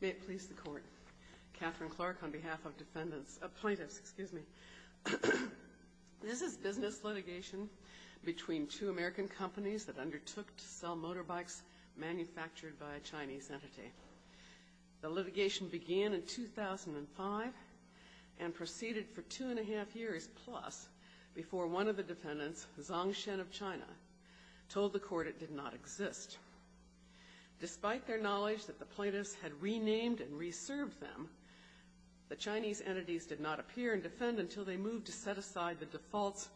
May it please the Court, Catherine Clark on behalf of plaintiffs, this is business litigation between two American companies that undertook to sell motorbikes manufactured by a Chinese entity. The litigation began in 2005 and proceeded for two and a half years plus before one of the defendants, Zongshen of China, told the Court it did not exist. Despite their knowledge that the plaintiffs had renamed and reserved them, the Chinese entities did not appear and defend until they moved to set aside the defaults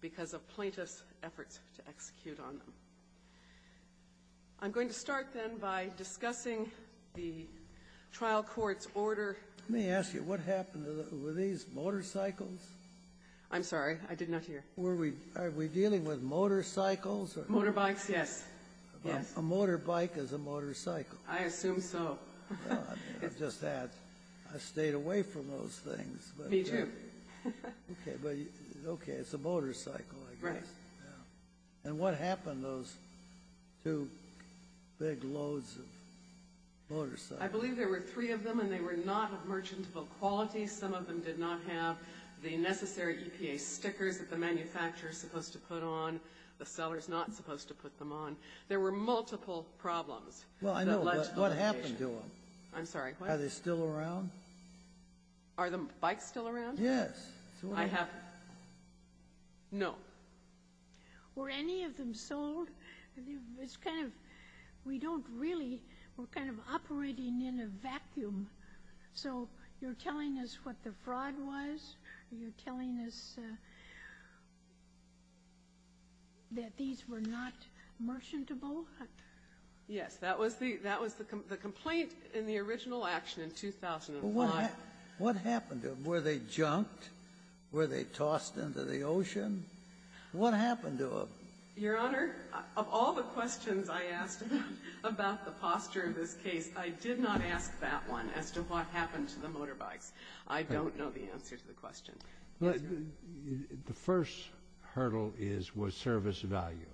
because of plaintiffs' efforts to execute on them. I'm going to start, then, by discussing the trial court's order. Let me ask you, what happened to the – were these motorcycles? I'm sorry, I did not hear. Were we – are we dealing with motorcycles or – Motorbikes, yes. A motorbike is a motorcycle. I assume so. I've just had – I've stayed away from those things. Me, too. Okay, but – okay, it's a motorcycle, I guess. Right. And what happened to those two big loads of motorcycles? I believe there were three of them and they were not of merchantable quality. Some of them did not have the necessary EPA stickers that the manufacturer is supposed to put on, the seller is not supposed to put them on. There were multiple problems that led to litigation. Well, I know. But what happened to them? I'm sorry, what? Are they still around? Are the bikes still around? Yes. I have – no. Were any of them sold? It's kind of – we don't really – we're kind of operating in a vacuum. So you're telling us what the fraud was? You're telling us that these were not merchantable? Yes. That was the complaint in the original action in 2005. What happened to them? Were they junked? Were they tossed into the ocean? What happened to them? Your Honor, of all the questions I asked about the posture of this case, I did not ask that one. I asked the question as to what happened to the motorbikes. I don't know the answer to the question. The first hurdle is, was service value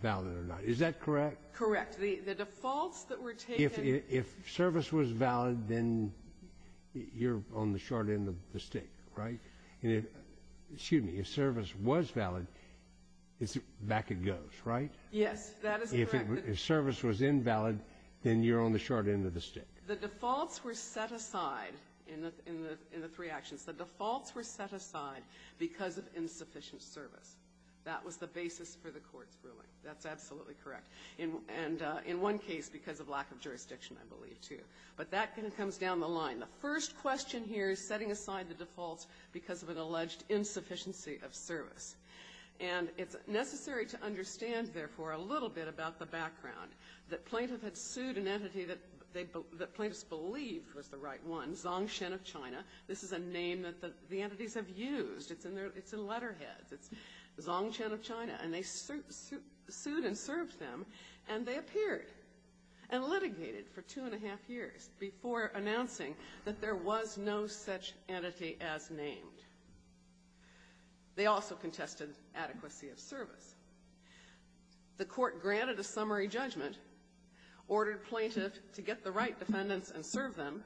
valid or not? Is that correct? Correct. The defaults that were taken – If service was valid, then you're on the short end of the stick, right? And if – excuse me – if service was valid, back it goes, right? Yes. That is correct. If service was invalid, then you're on the short end of the stick. The defaults were set aside – in the three actions – the defaults were set aside because of insufficient service. That was the basis for the court's ruling. That's absolutely correct. And in one case, because of lack of jurisdiction, I believe, too. But that kind of comes down the line. The first question here is setting aside the defaults because of an alleged insufficiency of service. And it's necessary to understand, therefore, a little bit about the background. The plaintiff had sued an entity that plaintiffs believed was the right one, Zhongshan of China. This is a name that the entities have used. It's in their – it's in letterheads. It's Zhongshan of China. And they sued and served them, and they appeared and litigated for two and a half years before announcing that there was no such entity as named. They also contested adequacy of service. The court granted a summary judgment, ordered plaintiff to get the right defendants and serve them.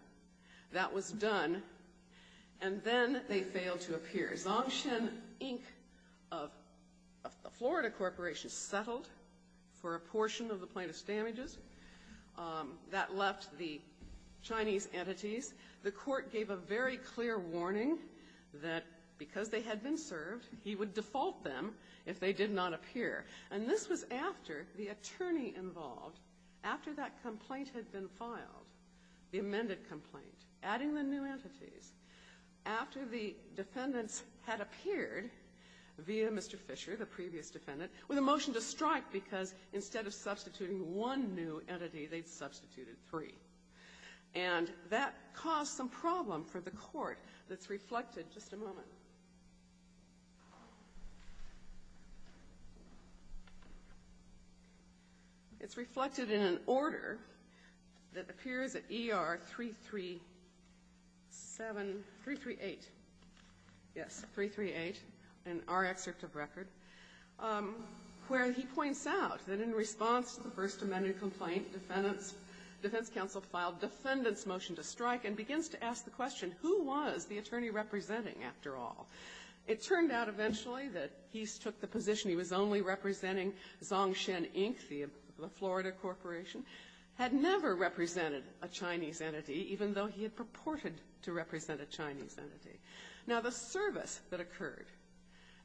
That was done. And then they failed to appear. Zhongshan, Inc. of a Florida corporation, settled for a portion of the plaintiff's damages. That left the Chinese entities. The court gave a very clear warning that because they had been served, he would default them if they did not appear. And this was after the attorney involved, after that complaint had been filed, the amended complaint, adding the new entities, after the defendants had appeared via Mr. Fisher, the previous defendant, with a motion to strike because instead of substituting one new entity, they'd substituted three. And that caused some problem for the court that's reflected, just a moment, it's reflected in an order that appears at ER 337, 338, yes, 338 in our excerpt of record, where he points out that in response to the first amended complaint, defendants, defense counsel filed defendant's motion to strike and begins to ask the question, who was the attorney representing after all? It turned out eventually that he took the position he was only representing Zhongshan, Inc., the Florida corporation, had never represented a Chinese entity, even though he had purported to represent a Chinese entity. Now the service that occurred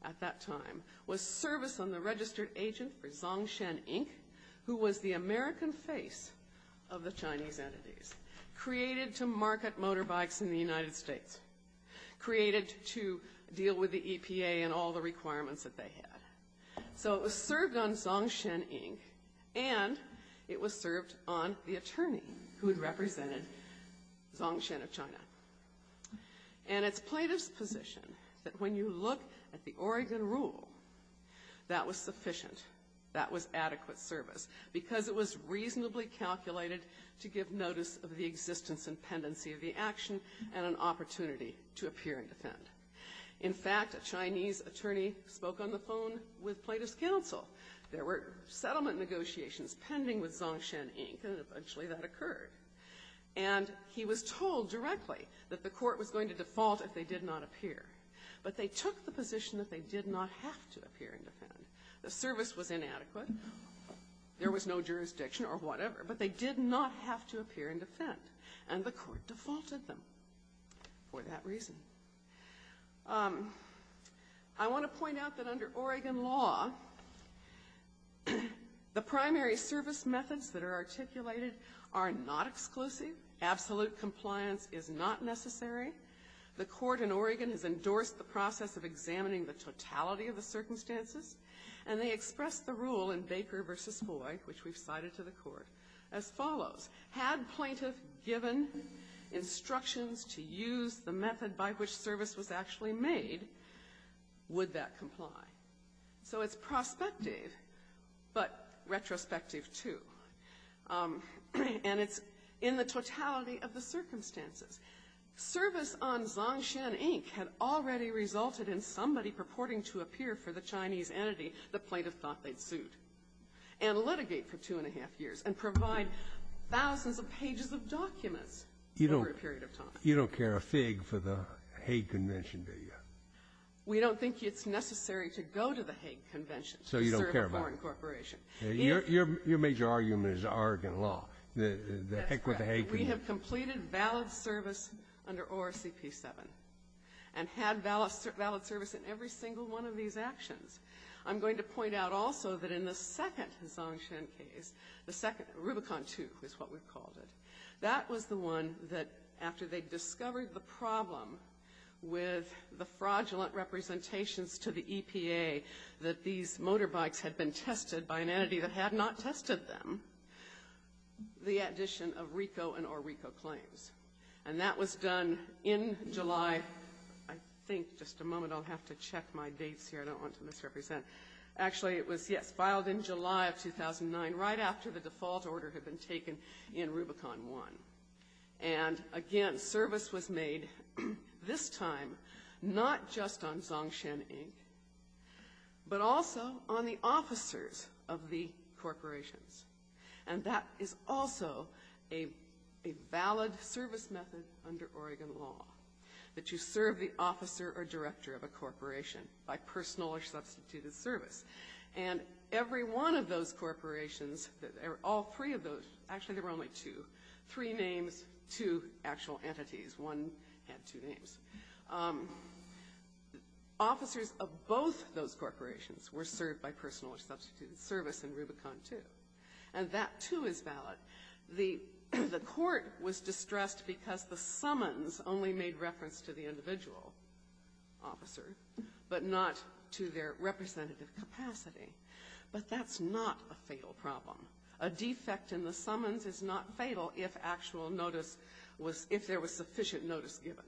at that time was service on the registered agent for Zhongshan, Inc., who was the American face of the Chinese entities, created to market motorbikes in the United States, created to deal with the EPA and all the requirements that they had. So it was served on Zhongshan, Inc., and it was served on the attorney who had represented Zhongshan of China. And it's Plaintiff's position that when you look at the Oregon rule, that was sufficient, that was adequate service, because it was reasonably calculated to give notice of the existence and pendency of the action and an opportunity to appear and defend. In fact, a Chinese attorney spoke on the phone with Plaintiff's counsel. There were settlement negotiations pending with Zhongshan, Inc., and eventually that occurred. And he was told directly that the court was going to default if they did not appear. But they took the position that they did not have to appear and defend. The service was inadequate. There was no jurisdiction or whatever, but they did not have to appear and defend. And the court defaulted them for that reason. I want to point out that under Oregon law, the primary service methods that are articulated are not exclusive. Absolute compliance is not necessary. The court in Oregon has endorsed the process of examining the totality of the circumstances, and they expressed the rule in Baker v. Hoy, which we've cited to the court, as follows. Had Plaintiff given instructions to use the method by which service was actually made, would that comply? So it's prospective, but retrospective, too. And it's in the totality of the circumstances. Service on Zhongshan, Inc. had already resulted in somebody purporting to appear for the Chinese entity that Plaintiff thought they'd sued and litigate for two and a half years and provide thousands of pages of documents over a period of time. You don't care a fig for the Hague Convention, do you? We don't think it's necessary to go to the Hague Convention to serve a foreign corporation. So you don't care about it. Your major argument is Oregon law, the heck with the Hague Convention. We have completed valid service under ORCP 7 and had valid service in every single one of these actions. I'm going to point out also that in the second Zhongshan case, the second, Rubicon 2 is what we called it. That was the one that, after they discovered the problem with the fraudulent representations to the EPA that these motorbikes had been tested by an entity that had not tested them, the addition of RICO and or RICO claims. And that was done in July, I think, just a moment, I'll have to check my dates here, I don't want to misrepresent. Actually, it was, yes, filed in July of 2009, right after the default order had been taken in Rubicon 1. And again, service was made this time not just on Zhongshan Inc., but also on the officers of the corporations. And that is also a valid service method under Oregon law, that you serve the officer or director of a corporation by personal or substituted service. And every one of those corporations, all three of those, actually there were only two, three names, two actual entities, one had two names. Officers of both those corporations were served by personal or substituted service in Rubicon 2. And that too is valid. The court was distressed because the summons only made reference to the individual officer, but not to their representative capacity. But that's not a fatal problem. A defect in the summons is not fatal if actual notice was, if there was sufficient notice given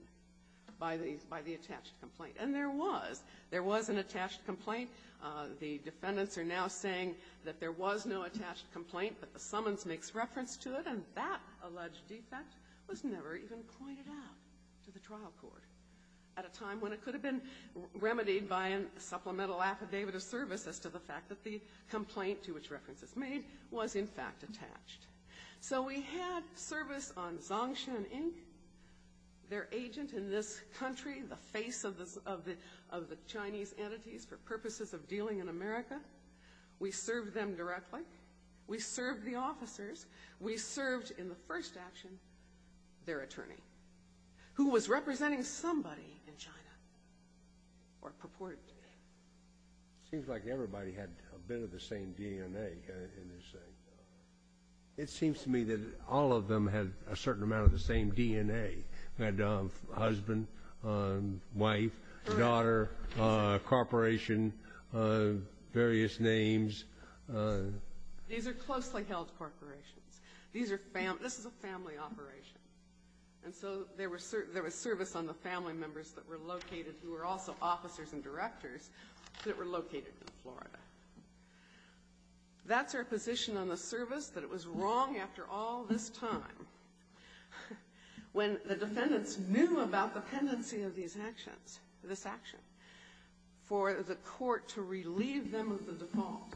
by the, by the attached complaint. And there was, there was an attached complaint, the defendants are now saying that there was no attached complaint, but the summons makes reference to it, and that alleged defect was never even pointed out to the trial court. At a time when it could have been remedied by a supplemental affidavit of service as to the fact that the complaint to which reference is made was in fact attached. So we had service on Zhongshan Inc., their agent in this country, the face of the, of the Chinese entities for purposes of dealing in America. We served the officers. We served in the first action, their attorney, who was representing somebody in China, or purported to be. Seems like everybody had a bit of the same DNA in this thing. It seems to me that all of them had a certain amount of the same DNA. Had a husband, wife, daughter, corporation, various names. These are closely held corporations. These are, this is a family operation. And so there was service on the family members that were located, who were also officers and directors, that were located in Florida. That's our position on the service, that it was wrong after all this time, when the defendants knew about the tendency of these actions, this action, for the court to relieve them of the default.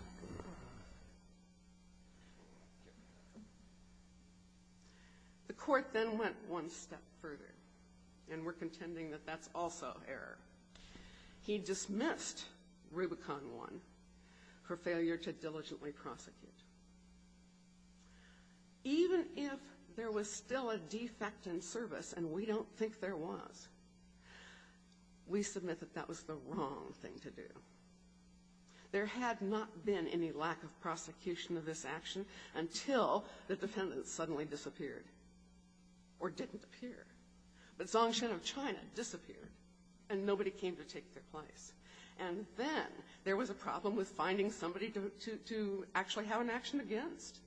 The court then went one step further, and we're contending that that's also error. He dismissed Rubicon 1 for failure to diligently prosecute. Even if there was still a defect in service, and we don't think there was, we submit that that was the wrong thing to do. There had not been any lack of prosecution of this action until the defendants suddenly disappeared, or didn't appear. But Zhongshan of China disappeared, and nobody came to take their place. And then there was a problem with finding somebody to actually have an action against.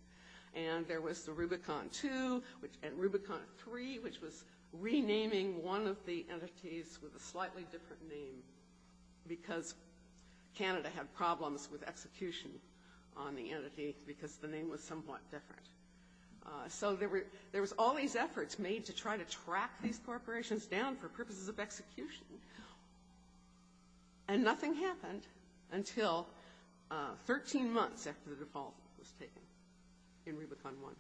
And there was the Rubicon 2, and Rubicon 3, which was renaming one of the entities with a slightly different name, because Canada had problems with execution on the entity, because the name was somewhat different. So there was all these efforts made to try to track these corporations down for purposes of execution, and nothing happened until 13 months after the default was taken in Rubicon 1.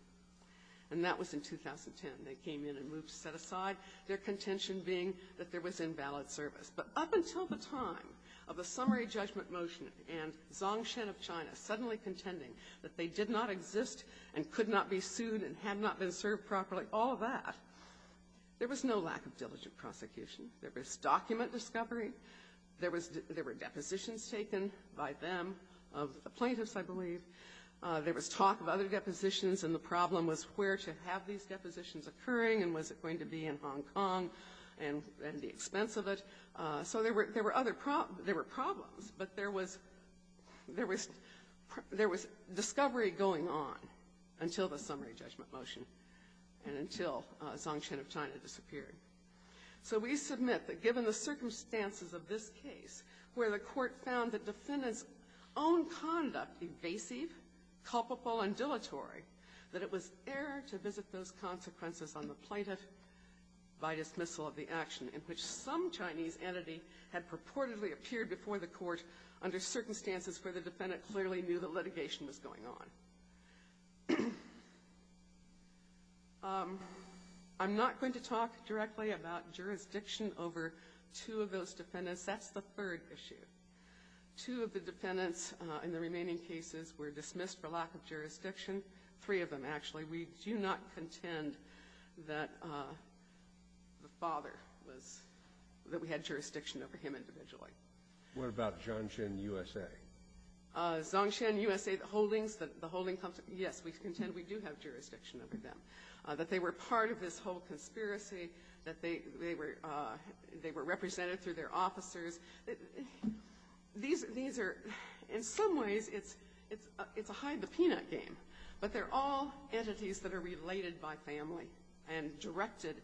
And that was in 2010. And they came in and moved, set aside, their contention being that there was invalid service. But up until the time of the summary judgment motion and Zhongshan of China suddenly contending that they did not exist and could not be sued and had not been served properly, all of that, there was no lack of diligent prosecution. There was document discovery. There were depositions taken by them of the plaintiffs, I believe. There was talk of other depositions. And the problem was where to have these depositions occurring, and was it going to be in Hong Kong, and at the expense of it? So there were problems, but there was discovery going on until the summary judgment motion and until Zhongshan of China disappeared. So we submit that given the circumstances of this case, where the court found the defendant's own conduct evasive, culpable, and dilatory, that it was error to visit those consequences on the plaintiff by dismissal of the action, in which some Chinese entity had purportedly appeared before the court under circumstances where the defendant clearly knew that litigation was going on. I'm not going to talk directly about jurisdiction over two of those defendants. That's the third issue. Two of the defendants in the remaining cases were dismissed for lack of jurisdiction. Three of them, actually. We do not contend that the father was, that we had jurisdiction over him individually. What about Zhongshan USA? Zhongshan USA, the holdings, the holding company, yes, we contend we do have jurisdiction over them. That they were part of this whole conspiracy. That they were represented through their officers. These are, in some ways, it's a hide the peanut game. But they're all entities that are related by family and directed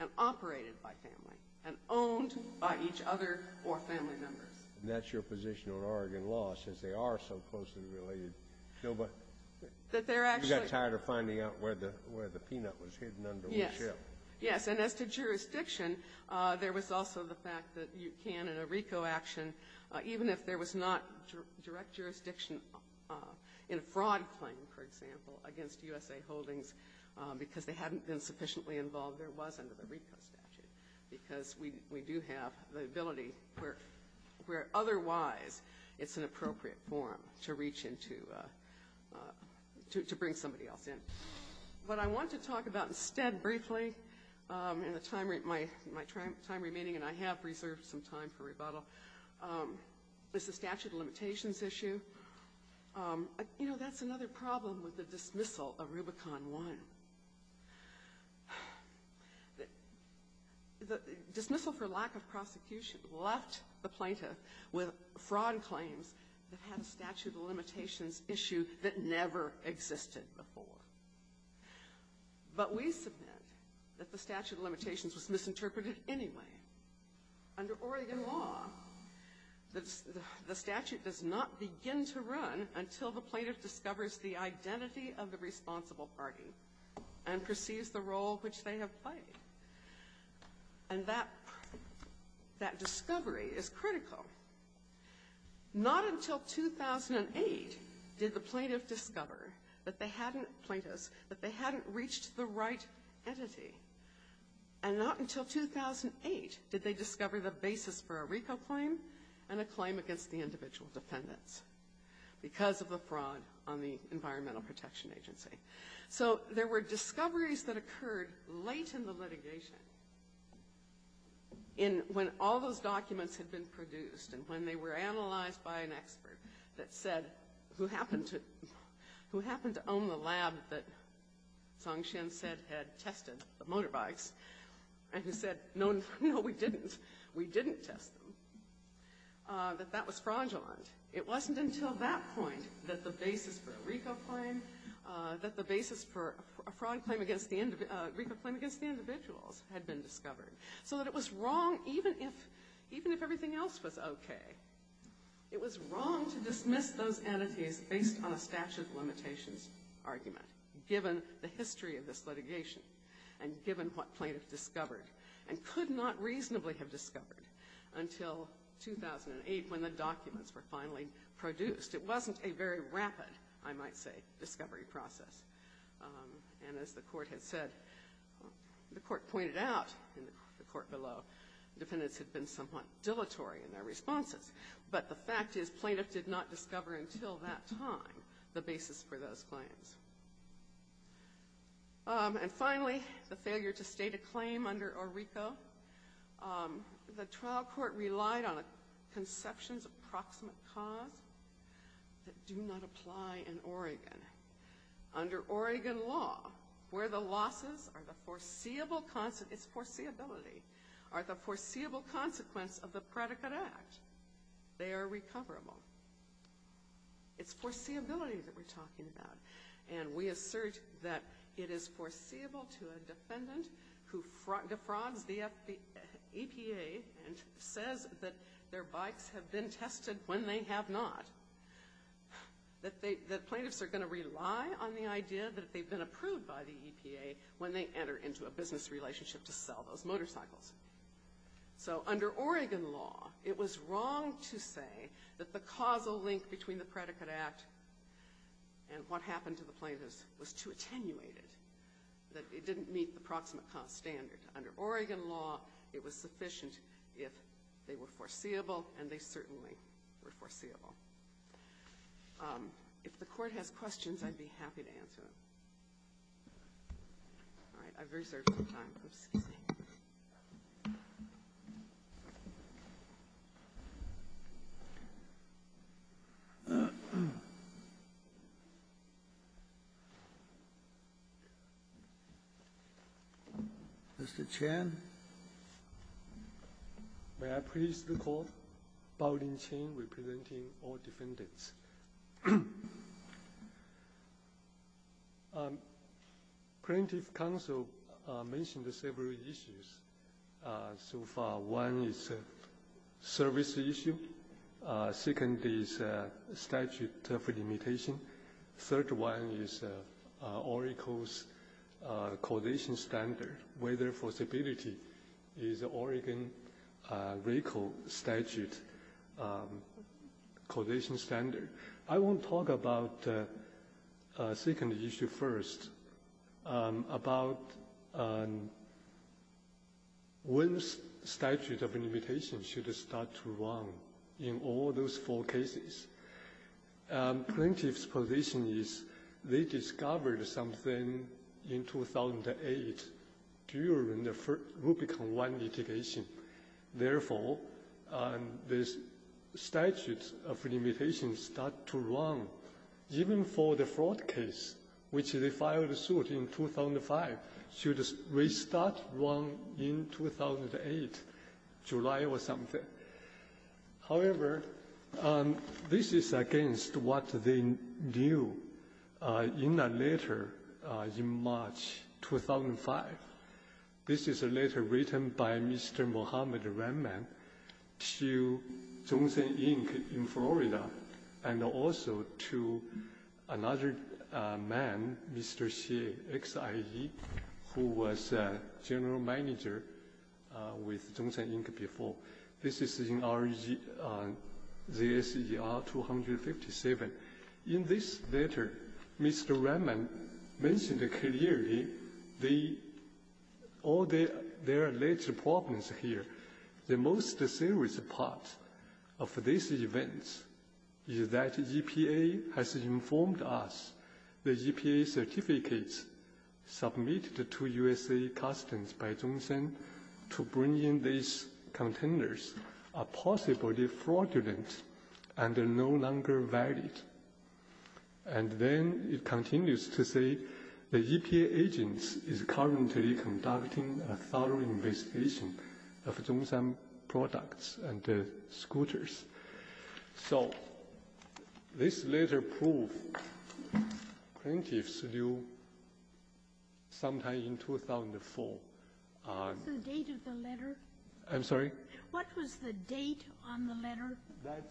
and operated by family and owned by each other or family members. And that's your position on Oregon law, since they are so closely related. You got tired of finding out where the peanut was hidden under the shell. Yes, and as to jurisdiction, there was also the fact that you can, in a RICO action, even if there was not direct jurisdiction in a fraud claim, for example, against USA Holdings, because they hadn't been sufficiently involved, there was under the RICO statute. Because we do have the ability where otherwise it's an appropriate forum to reach into, to bring somebody else in. What I want to talk about instead, briefly, in the time, my time remaining, and I have reserved some time for rebuttal, is the statute of limitations issue. You know, that's another problem with the dismissal of Rubicon 1. The dismissal for lack of prosecution left the plaintiff with fraud claims that had a statute of limitations issue that never existed before. But we submit that the statute of limitations was misinterpreted anyway. Under Oregon law, the statute does not begin to run until the plaintiff discovers the identity of the responsible party and perceives the role which they have played. And that discovery is critical. Not until 2008 did the plaintiff discover that they hadn't, plaintiffs, that they hadn't reached the right entity. And not until 2008 did they discover the basis for a RICO claim and a claim against the individual defendants because of the fraud on the Environmental Protection Agency. So there were discoveries that occurred late in the litigation, when all those documents had been produced and when they were analyzed by an expert that said, who happened to own the lab that Song Hsien said had tested the motorbikes, and who said, no, we didn't, we didn't test them, that that was fraudulent. It wasn't until that point that the basis for a RICO claim, that the basis for a RICO claim against the individuals had been discovered. So that it was wrong, even if everything else was okay, it was wrong to dismiss those entities based on a statute of limitations argument, given the history of this litigation, and given what plaintiffs discovered, and could not reasonably have discovered until 2008 when the documents were finally produced. It wasn't a very rapid, I might say, discovery process. And as the court had said, the court pointed out in the court below, defendants had been somewhat dilatory in their responses. But the fact is, plaintiff did not discover until that time the basis for those claims. And finally, the failure to state a claim under a RICO. The trial court relied on a conception's approximate cause that do not apply in Oregon. Under Oregon law, where the losses are the foreseeable, it's foreseeability, are the foreseeable consequence of the predicate act. They are recoverable. It's foreseeability that we're talking about. And we assert that it is foreseeable to a defendant who defrauds the EPA and says that their bikes have been tested when they have not. That plaintiffs are going to rely on the idea that they've been approved by the EPA when they enter into a business relationship to sell those motorcycles. So under Oregon law, it was wrong to say that the causal link between the predicate act and what happened to the plaintiffs was too attenuated, that it didn't meet the proximate cause standard. Under Oregon law, it was sufficient if they were foreseeable, and they certainly were foreseeable. If the Court has questions, I'd be happy to answer them. All right. I've reserved some time. Excuse me. Mr. Chen. Mr. Chen. May I please the Court? Bao-Lin Chen representing all defendants. Yes. Plaintiff counsel mentioned several issues so far. One is service issue. Second is statute of limitation. Third one is Oracle's causation standard. Whether forcibility is Oregon's Oracle statute causation standard. I want to talk about the second issue first, about when statute of limitation should start to run in all those four cases. Plaintiff's position is they discovered something in 2008 during the Rubicon I litigation. Therefore, this statute of limitation start to run, even for the fraud case, which they filed suit in 2005, should restart run in 2008, July or something. However, this is against what they knew in a letter in March 2005. This is a letter written by Mr. Muhammad Rehman to Johnson, Inc. in Florida, and also to another man, Mr. Xie, X-I-E, who was general manager with Johnson, Inc. before. This is in ZSER 257. In this letter, Mr. Rehman mentioned clearly all their alleged problems here. The most serious part of these events is that EPA has informed us the EPA containers are possibly fraudulent and are no longer valid. And then it continues to say the EPA agent is currently conducting a thorough investigation of Johnson products and the scooters. So this letter proved plaintiff's view sometime in 2004. So the date of the letter? I'm sorry? What was the date on the letter? That's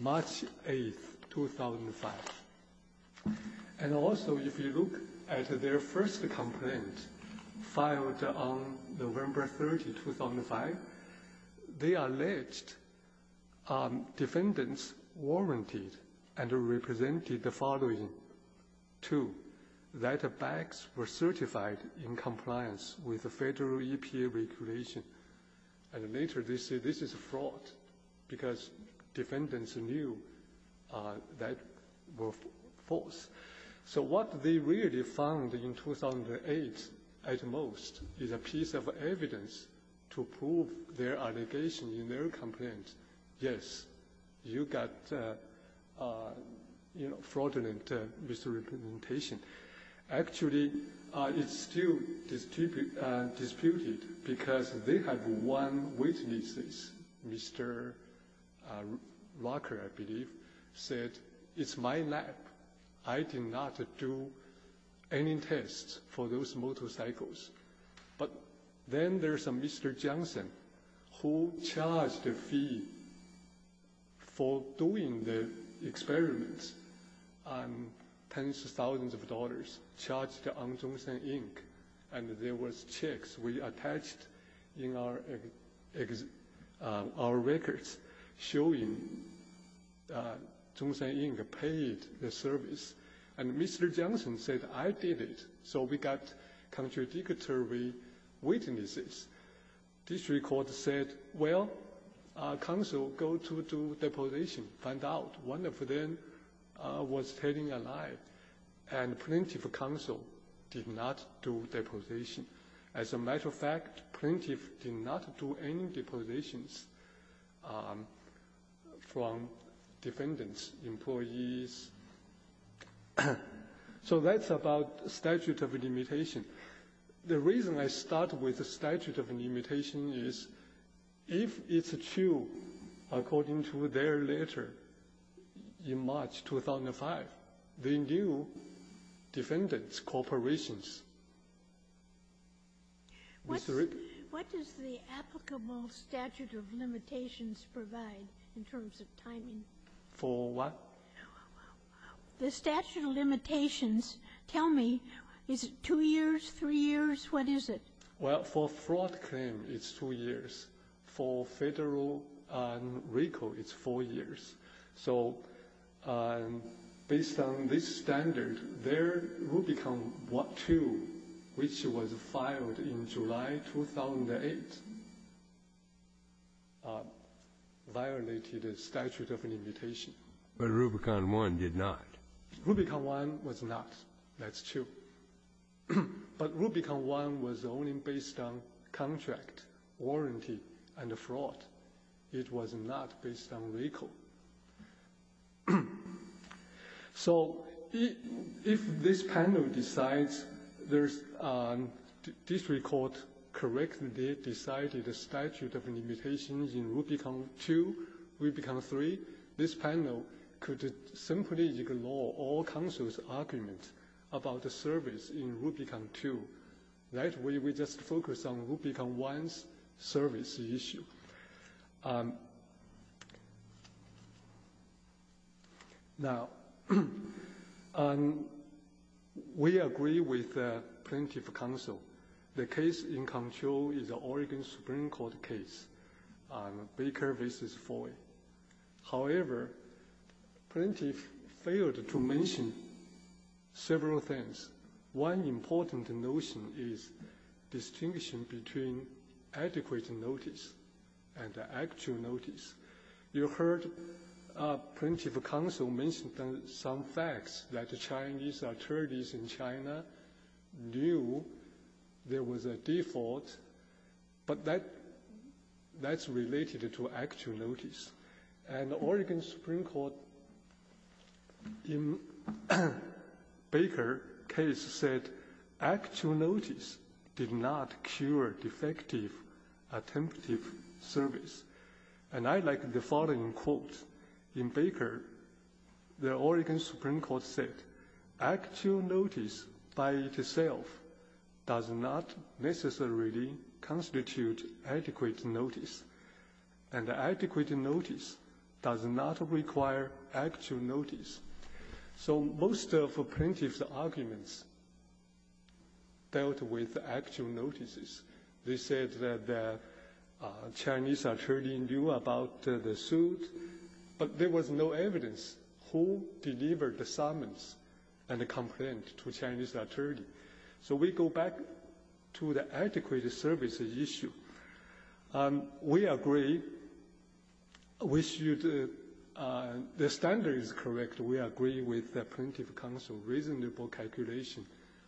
March 8th, 2005. And also, if you look at their first complaint filed on November 30th, 2005, they alleged defendants warranted and represented the following two, that the bags were certified in compliance with the federal EPA regulation. And later they say this is a fraud because defendants knew that were false. So what they really found in 2008 at most is a piece of evidence to prove their allegation in their complaint, yes, you got, you know, fraudulent misrepresentation. Actually, it's still disputed because they have one witness, Mr. Walker, I believe, said it's my lab. I did not do any tests for those motorcycles. But then there's a Mr. Johnson who charged a fee for doing the experiments and tens of thousands of dollars charged on Zhongshan, Inc. And there was checks we attached in our records showing Zhongshan, Inc. paid the service. And Mr. Johnson said, I did it. So we got contradictory witnesses. This record said, well, counsel go to do deposition, find out. One of them was telling a lie. And plaintiff counsel did not do deposition. As a matter of fact, plaintiff did not do any depositions from defendants, employees. So that's about statute of limitation. The reason I start with the statute of limitation is if it's true, according to their letter in March 2005, the new defendant's corporations, Mr. Rigby. Sotomayor, what does the applicable statute of limitations provide in terms of timing? For what? The statute of limitations, tell me, is it two years, three years? What is it? Well, for fraud claim, it's two years. For Federal and RICO, it's four years. So based on this standard, their Rubicon II, which was filed in July 2008, violated a statute of limitation. But Rubicon I did not. Rubicon I was not. That's true. But Rubicon I was only based on contract, warranty, and fraud. It was not based on RICO. So if this panel decides this record correctly decided a statute of limitation in Rubicon II, Rubicon III, this panel could simply ignore all counsel's argument about the service in Rubicon II. That way, we just focus on Rubicon I's service issue. Now, we agree with plaintiff counsel. The case in control is an Oregon Supreme Court case, Baker v. Foy. However, plaintiff failed to mention several things. One important notion is distinction between adequate notice and actual notice. You heard plaintiff counsel mention some facts that the Chinese attorneys in China knew there was a default, but that's related to actual notice. And Oregon Supreme Court in Baker case said actual notice did not cure defective attempted service. And I like the following quote. In Baker, the Oregon Supreme Court said, actual notice by itself does not necessarily constitute adequate notice. And adequate notice does not require actual notice. So most of plaintiff's arguments dealt with actual notices. They said that the Chinese attorney knew about the suit, but there was no evidence who delivered the summons and the complaint to Chinese attorney. So we go back to the adequate service issue. We agree with you. The standard is correct. We agree with plaintiff counsel. Reasonable calculation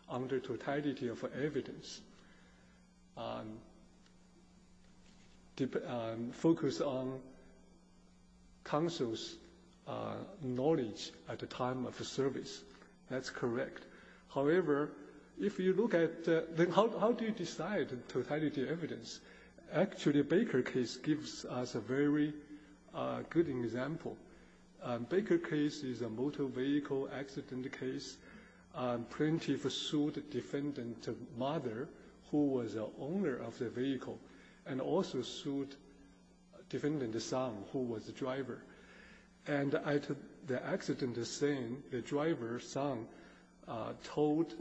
under totality of evidence. Focus on counsel's knowledge at the time of the service. That's correct. However, if you look at how do you decide totality of evidence? Actually, Baker case gives us a very good example. Baker case is a motor vehicle accident case. Plaintiff sued defendant's mother, who was the owner of the vehicle, and also sued defendant's son, who was the driver. And at the accident scene, the driver's son told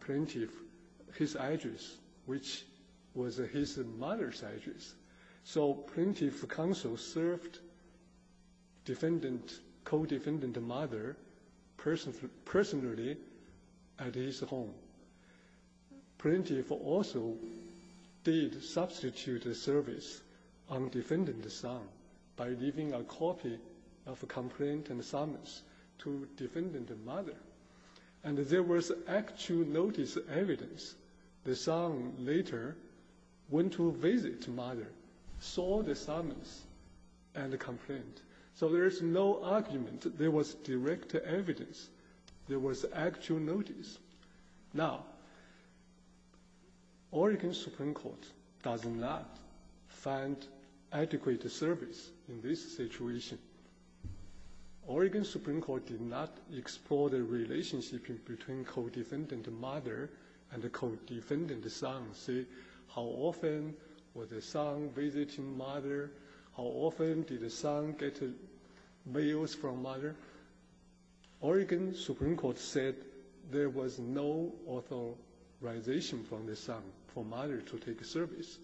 plaintiff his address, which was his mother's address. So plaintiff counsel served defendant co-defendant mother personally at his home. Plaintiff also did substitute the service on defendant's son by leaving a copy of a complaint and summons to defendant mother. And there was actual notice evidence. The son later went to visit mother, saw the summons and the complaint. So there is no argument. There was direct evidence. There was actual notice. Now, Oregon Supreme Court does not find adequate service in this situation. Oregon Supreme Court did not explore the relationship between co-defendant mother and the co-defendant son. See, how often was the son visiting mother? How often did the son get mails from mother? Oregon Supreme Court said there was no authorization from the son for mother to take service.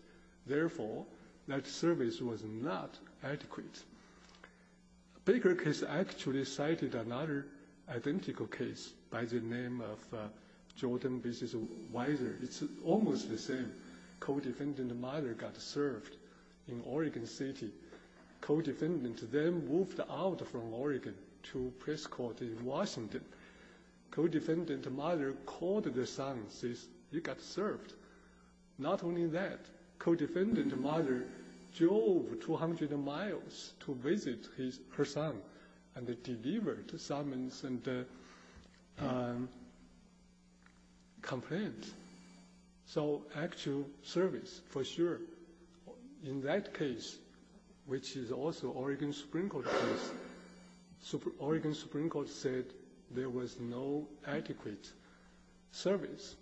Therefore, that service was not adequate. Baker case actually cited another identical case by the name of Jordan B. Weiser. It's almost the same. Co-defendant mother got served in Oregon City. Co-defendant then moved out from Oregon to press court in Washington. Co-defendant mother called the son and says, you got served. Not only that, co-defendant mother drove 200 miles to visit her son and delivered summons and complaints. So actual service, for sure. In that case, which is also Oregon Supreme Court case, Oregon Supreme Court said there was no adequate service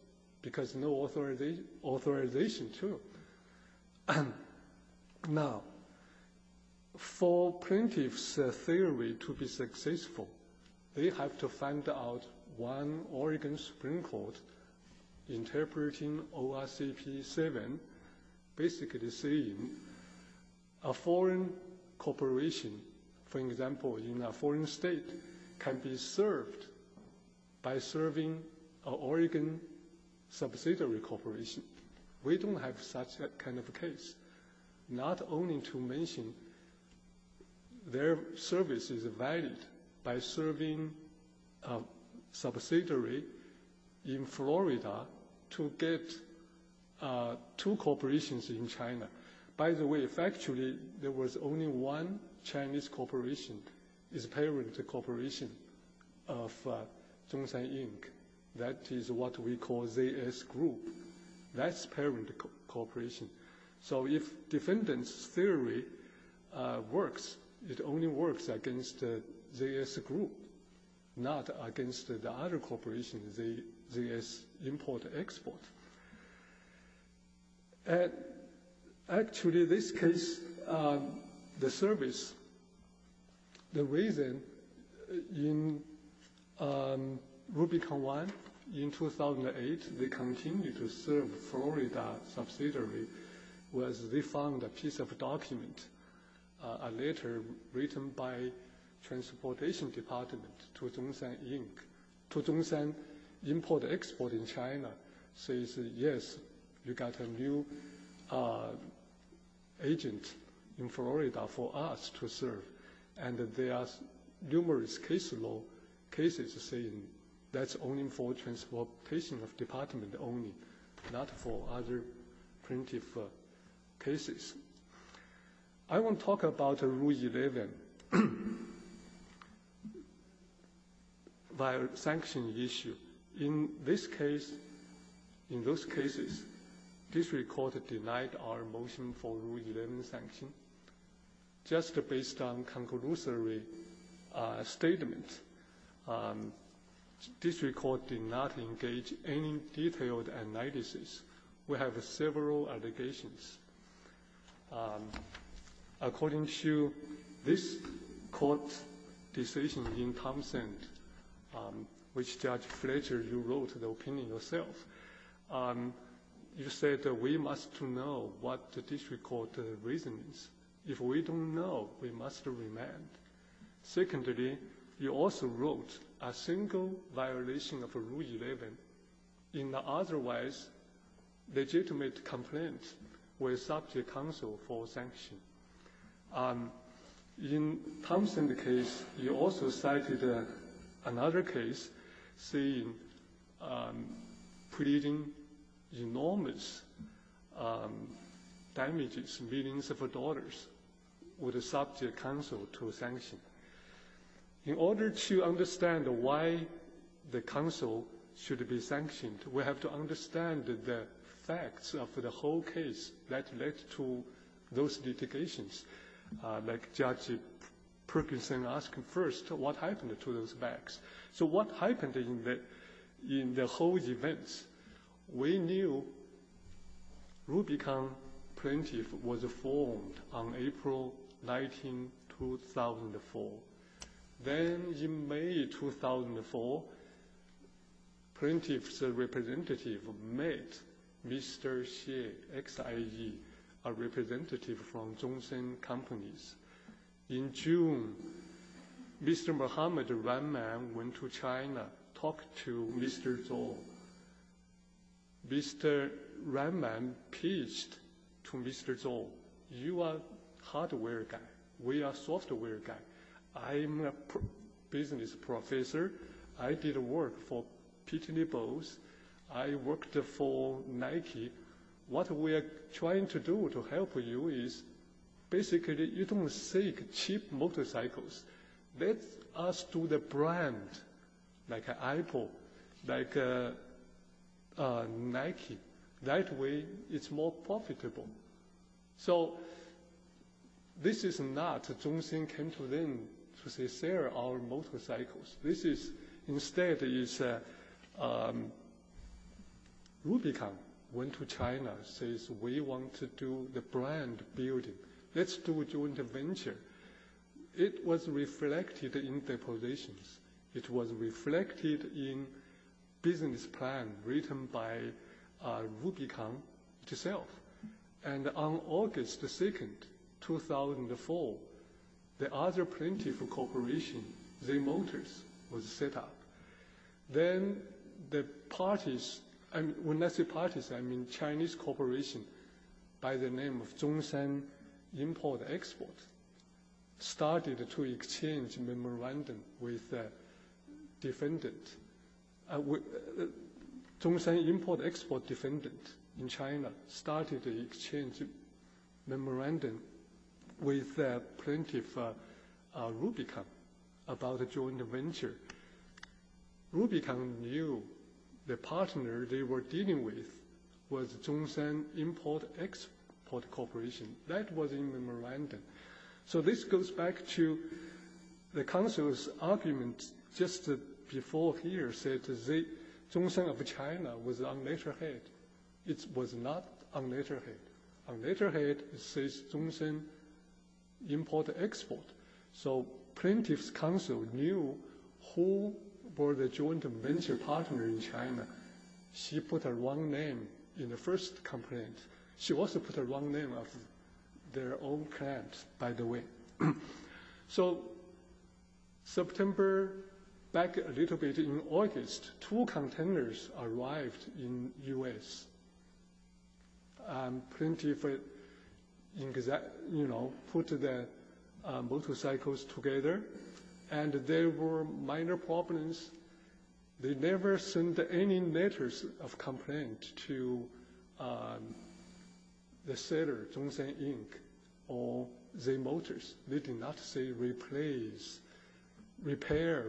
because no authorization to. Now, for plaintiff's theory to be successful, they have to find out one Oregon Supreme Court interpreting ORCP 7 basically saying a foreign corporation, for example, in a foreign state can be served by serving an Oregon subsidiary corporation. We don't have such a kind of case. Not only to mention their service is valid by serving a subsidiary in Florida to get two corporations in China. By the way, factually, there was only one Chinese corporation, its parent corporation of Zhongshan Inc. That is what we call ZS Group. That's parent corporation. So if defendant's theory works, it only works against ZS Group, not against the other corporation, ZS Import Export. Actually, this case, the service, the reason in Rubicon 1 in 2008, they continue to serve Florida subsidiary was they found a piece of document, a letter written by transportation department to Zhongshan Inc. To Zhongshan Import Export in China says, yes, you got a new agent in Florida for us to serve. And there are numerous case law cases saying that's only for transportation department only, not for other plaintiff cases. I want to talk about Rule 11 via sanction issue. In this case, in those cases, district court denied our motion for Rule 11 sanction. Just based on conclusory statement, district court did not engage any detailed analysis. We have several allegations. According to this court decision in Thompson, which Judge Fletcher, you wrote the opinion yourself, you said we must know what the district court reason is. If we don't know, we must remain. Secondly, you also wrote a single violation of Rule 11 in the otherwise legitimate complaint with subject counsel for sanction. In Thompson case, you also cited another case saying creating enormous damages, millions of dollars with the subject counsel to sanction. In order to understand why the counsel should be sanctioned, we have to understand the facts of the whole case that led to those litigations, like Judge Perkinson asking first what happened to those facts. So what happened in the whole events? We knew Rubicon Plaintiff was formed on April 19, 2004. Then in May 2004, Plaintiff's representative met Mr. Xie, X-I-E, a representative from Zhongshan Companies. In June, Mr. Mohammad Rahman went to China, talked to Mr. Zou. Mr. Rahman pitched to Mr. Zou, you are hardware guy, we are software guy. I'm a business professor. I did work for Pitney Bowes. I worked for Nike. What we are trying to do to help you is basically you don't seek cheap motorcycles. Let us do the brand like Apple, like Nike. That way it's more profitable. So this is not Zhongshan came to them to say sell our motorcycles. This is instead Rubicon went to China and says we want to do the brand building. Let's do joint venture. It was reflected in the positions. It was reflected in business plan written by Rubicon itself. And on August 2, 2004, the other plaintiff corporation, Z Motors, was set up. Then the parties, when I say parties, I mean Chinese corporation by the name of Zhongshan Import Export started to exchange memorandum with defendant. Zhongshan Import Export Defendant in China started to exchange memorandum with plaintiff Rubicon about the joint venture. Rubicon knew the partner they were dealing with was Zhongshan Import Export Corporation. That was in memorandum. So this goes back to the counsel's argument just before here said Zhongshan of China was on letterhead. It was not on letterhead. On letterhead it says Zhongshan Import Export. So plaintiff's counsel knew who were the joint venture partner in China. She put a wrong name in the first complaint. She also put a wrong name of their own client, by the way. So September, back a little bit in August, two containers arrived in U.S. Plaintiff put the motorcycles together and there were minor problems. They never sent any letters of complaint to the seller, Zhongshan Inc., or Z Motors. They did not say replace, repair.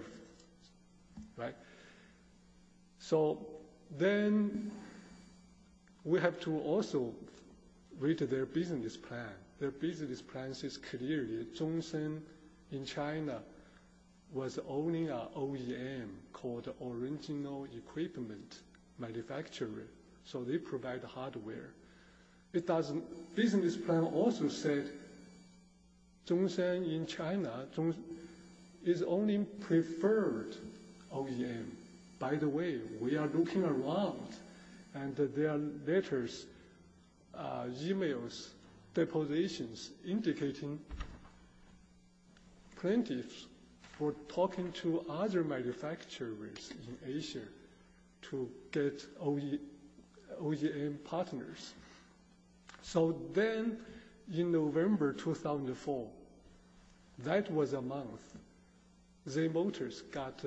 So then we have to also read their business plan. Their business plan says clearly Zhongshan in China was owning an OEM called Original Equipment Manufacturing. So they provide hardware. Business plan also said Zhongshan in China is owning preferred OEM. By the way, we are looking around and there are letters, e-mails, depositions, indicating plaintiffs were talking to other manufacturers in Asia to get OEM partners. So then in November 2004, that was a month, Z Motors got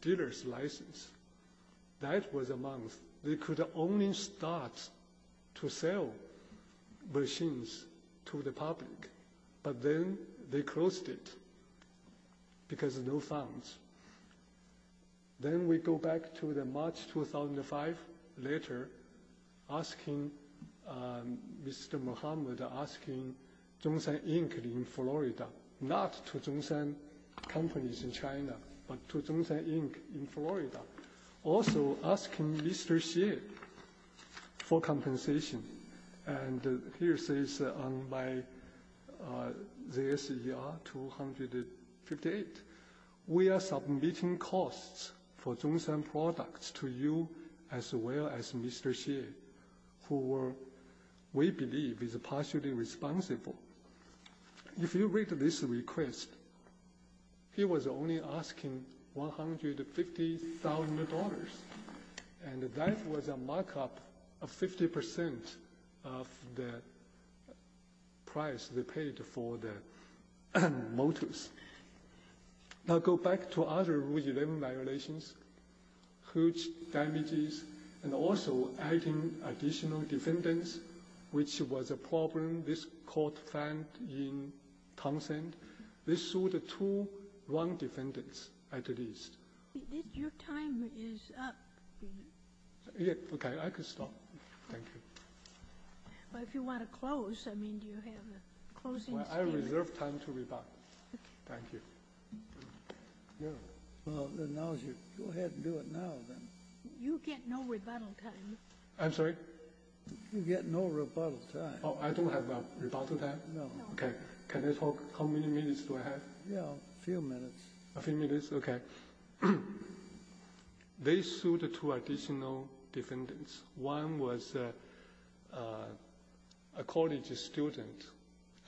dealer's license. That was a month. They could only start to sell machines to the public, but then they closed it because no funds. Then we go back to the March 2005 letter asking Mr. Muhammad, asking Zhongshan Inc. in Florida, not to Zhongshan companies in China, but to Zhongshan Inc. in Florida, also asking Mr. Xie for compensation. And here it says on my ZSER 258, we are submitting costs for Zhongshan products to you as well as Mr. Xie, who we believe is partially responsible. If you read this request, he was only asking $150,000. And that was a markup of 50% of the price they paid for the motors. Now go back to other Rule 11 violations, huge damages, and also adding additional defendants, which was a problem this Court found in Tungshan. This sued two wrong defendants, at least. Your time is up, Your Honor. Okay. I can stop. Thank you. Well, if you want to close, I mean, do you have a closing statement? I reserve time to rebut. Thank you. Go ahead and do it now, then. You get no rebuttal time. I'm sorry? You get no rebuttal time. Oh, I don't have a rebuttal time? No. Okay. Can I talk? How many minutes do I have? Yeah, a few minutes. A few minutes? Okay. One was a college student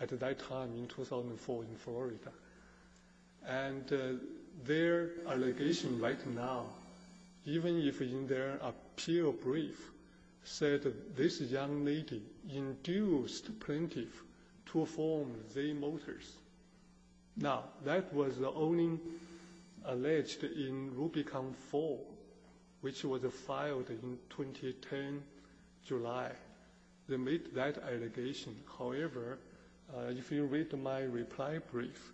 at that time in 2004 in Florida. And their allegation right now, even if in their appeal brief said, this young lady induced plaintiff to form Z Motors. Now, that was only alleged in Rubicon 4, which was filed in 2010 July. They made that allegation. However, if you read my reply brief,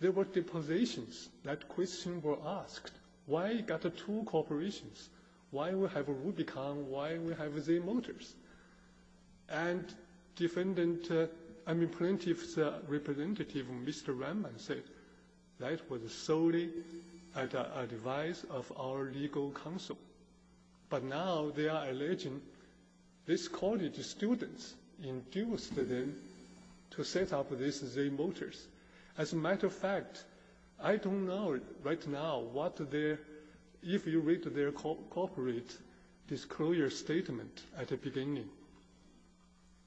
there were depositions that question were asked. Why got the two corporations? Why we have Rubicon? Why we have Z Motors? And plaintiff's representative, Mr. Reiman, said, that was solely at the advice of our legal counsel. But now they are alleging this college student induced them to set up this Z Motors. As a matter of fact, I don't know right now what their, if you read their corporate disclosure statement at the beginning.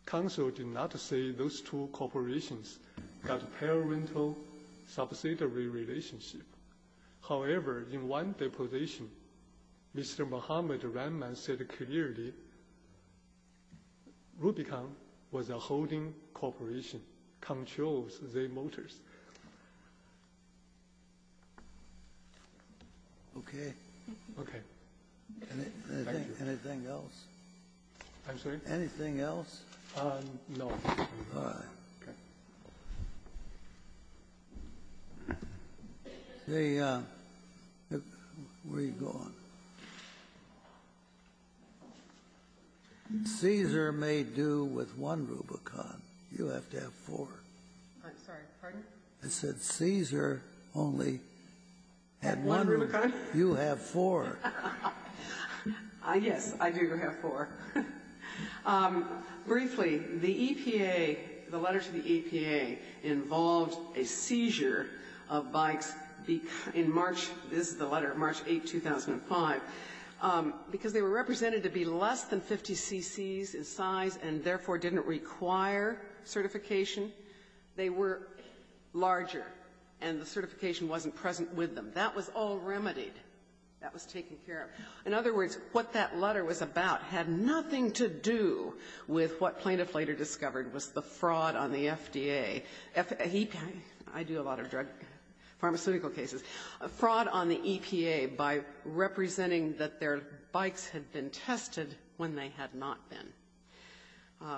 Counsel did not say those two corporations got parental subsidiary relationship. However, in one deposition, Mr. Muhammad Reiman said clearly, Rubicon was a holding corporation, controls Z Motors. Okay. Okay. Anything else? I'm sorry? Anything else? No. All right. Okay. Where are you going? Caesar may do with one Rubicon. You have to have four. I'm sorry. Pardon? I said Caesar only had one Rubicon. You have four. Yes, I do have four. Briefly, the EPA, the letter to the EPA, involved a seizure of bikes in March, this is the letter, March 8, 2005, because they were represented to be less than 50 cc's in size and therefore didn't require certification. They were larger, and the certification wasn't present with them. That was all remedied. That was taken care of. In other words, what that letter was about had nothing to do with what plaintiff later discovered was the fraud on the FDA. I do a lot of drug pharmaceutical cases. Fraud on the EPA by representing that their bikes had been tested when they had not been.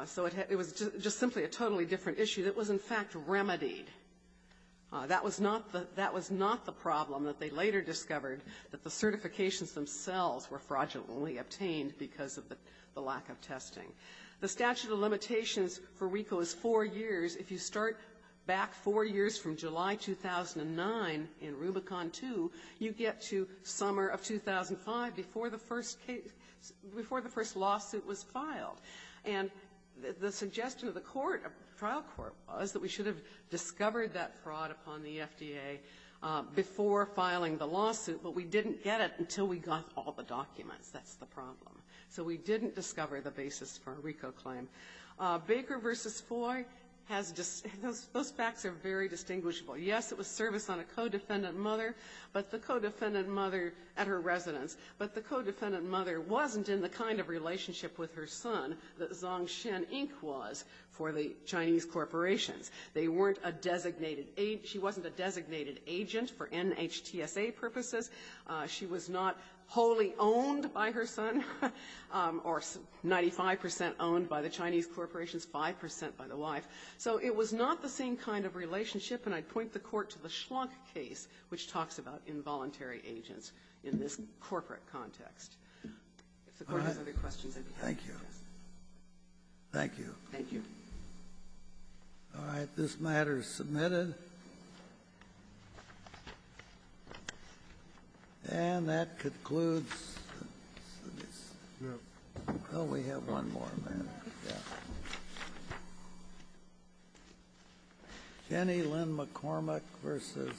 So it was just simply a totally different issue that was, in fact, remedied. That was not the problem that they later discovered, that the certifications themselves were fraudulently obtained because of the lack of testing. The statute of limitations for RICO is four years. If you start back four years from July 2009 in Rubicon 2, you get to summer of 2005 before the first case, before the first lawsuit was filed. And the suggestion of the court, of the trial court, was that we should have discovered that fraud upon the FDA before filing the lawsuit, but we didn't get it until we got all the documents. That's the problem. So we didn't discover the basis for a RICO claim. Baker v. Foy has just those facts are very distinguishable. Yes, it was service on a co-defendant mother, but the co-defendant mother at her residence, but the co-defendant mother wasn't in the kind of relationship with her son that Zong Shen Inc. was for the Chinese corporations. They weren't a designated agent. She wasn't a designated agent for NHTSA purposes. She was not wholly owned by her son, or 95 percent owned by the Chinese corporations, 5 percent by the wife. So it was not the same kind of relationship, and I'd point the Court to the Schlunk case, which talks about involuntary agents in this corporate context. If the Court has other questions, I'd be happy to address them. Thank you. Thank you. All right. This matter is submitted. And that concludes. Well, we have one more, ma'am. Kenne, Lynn McCormack v. Heidemann.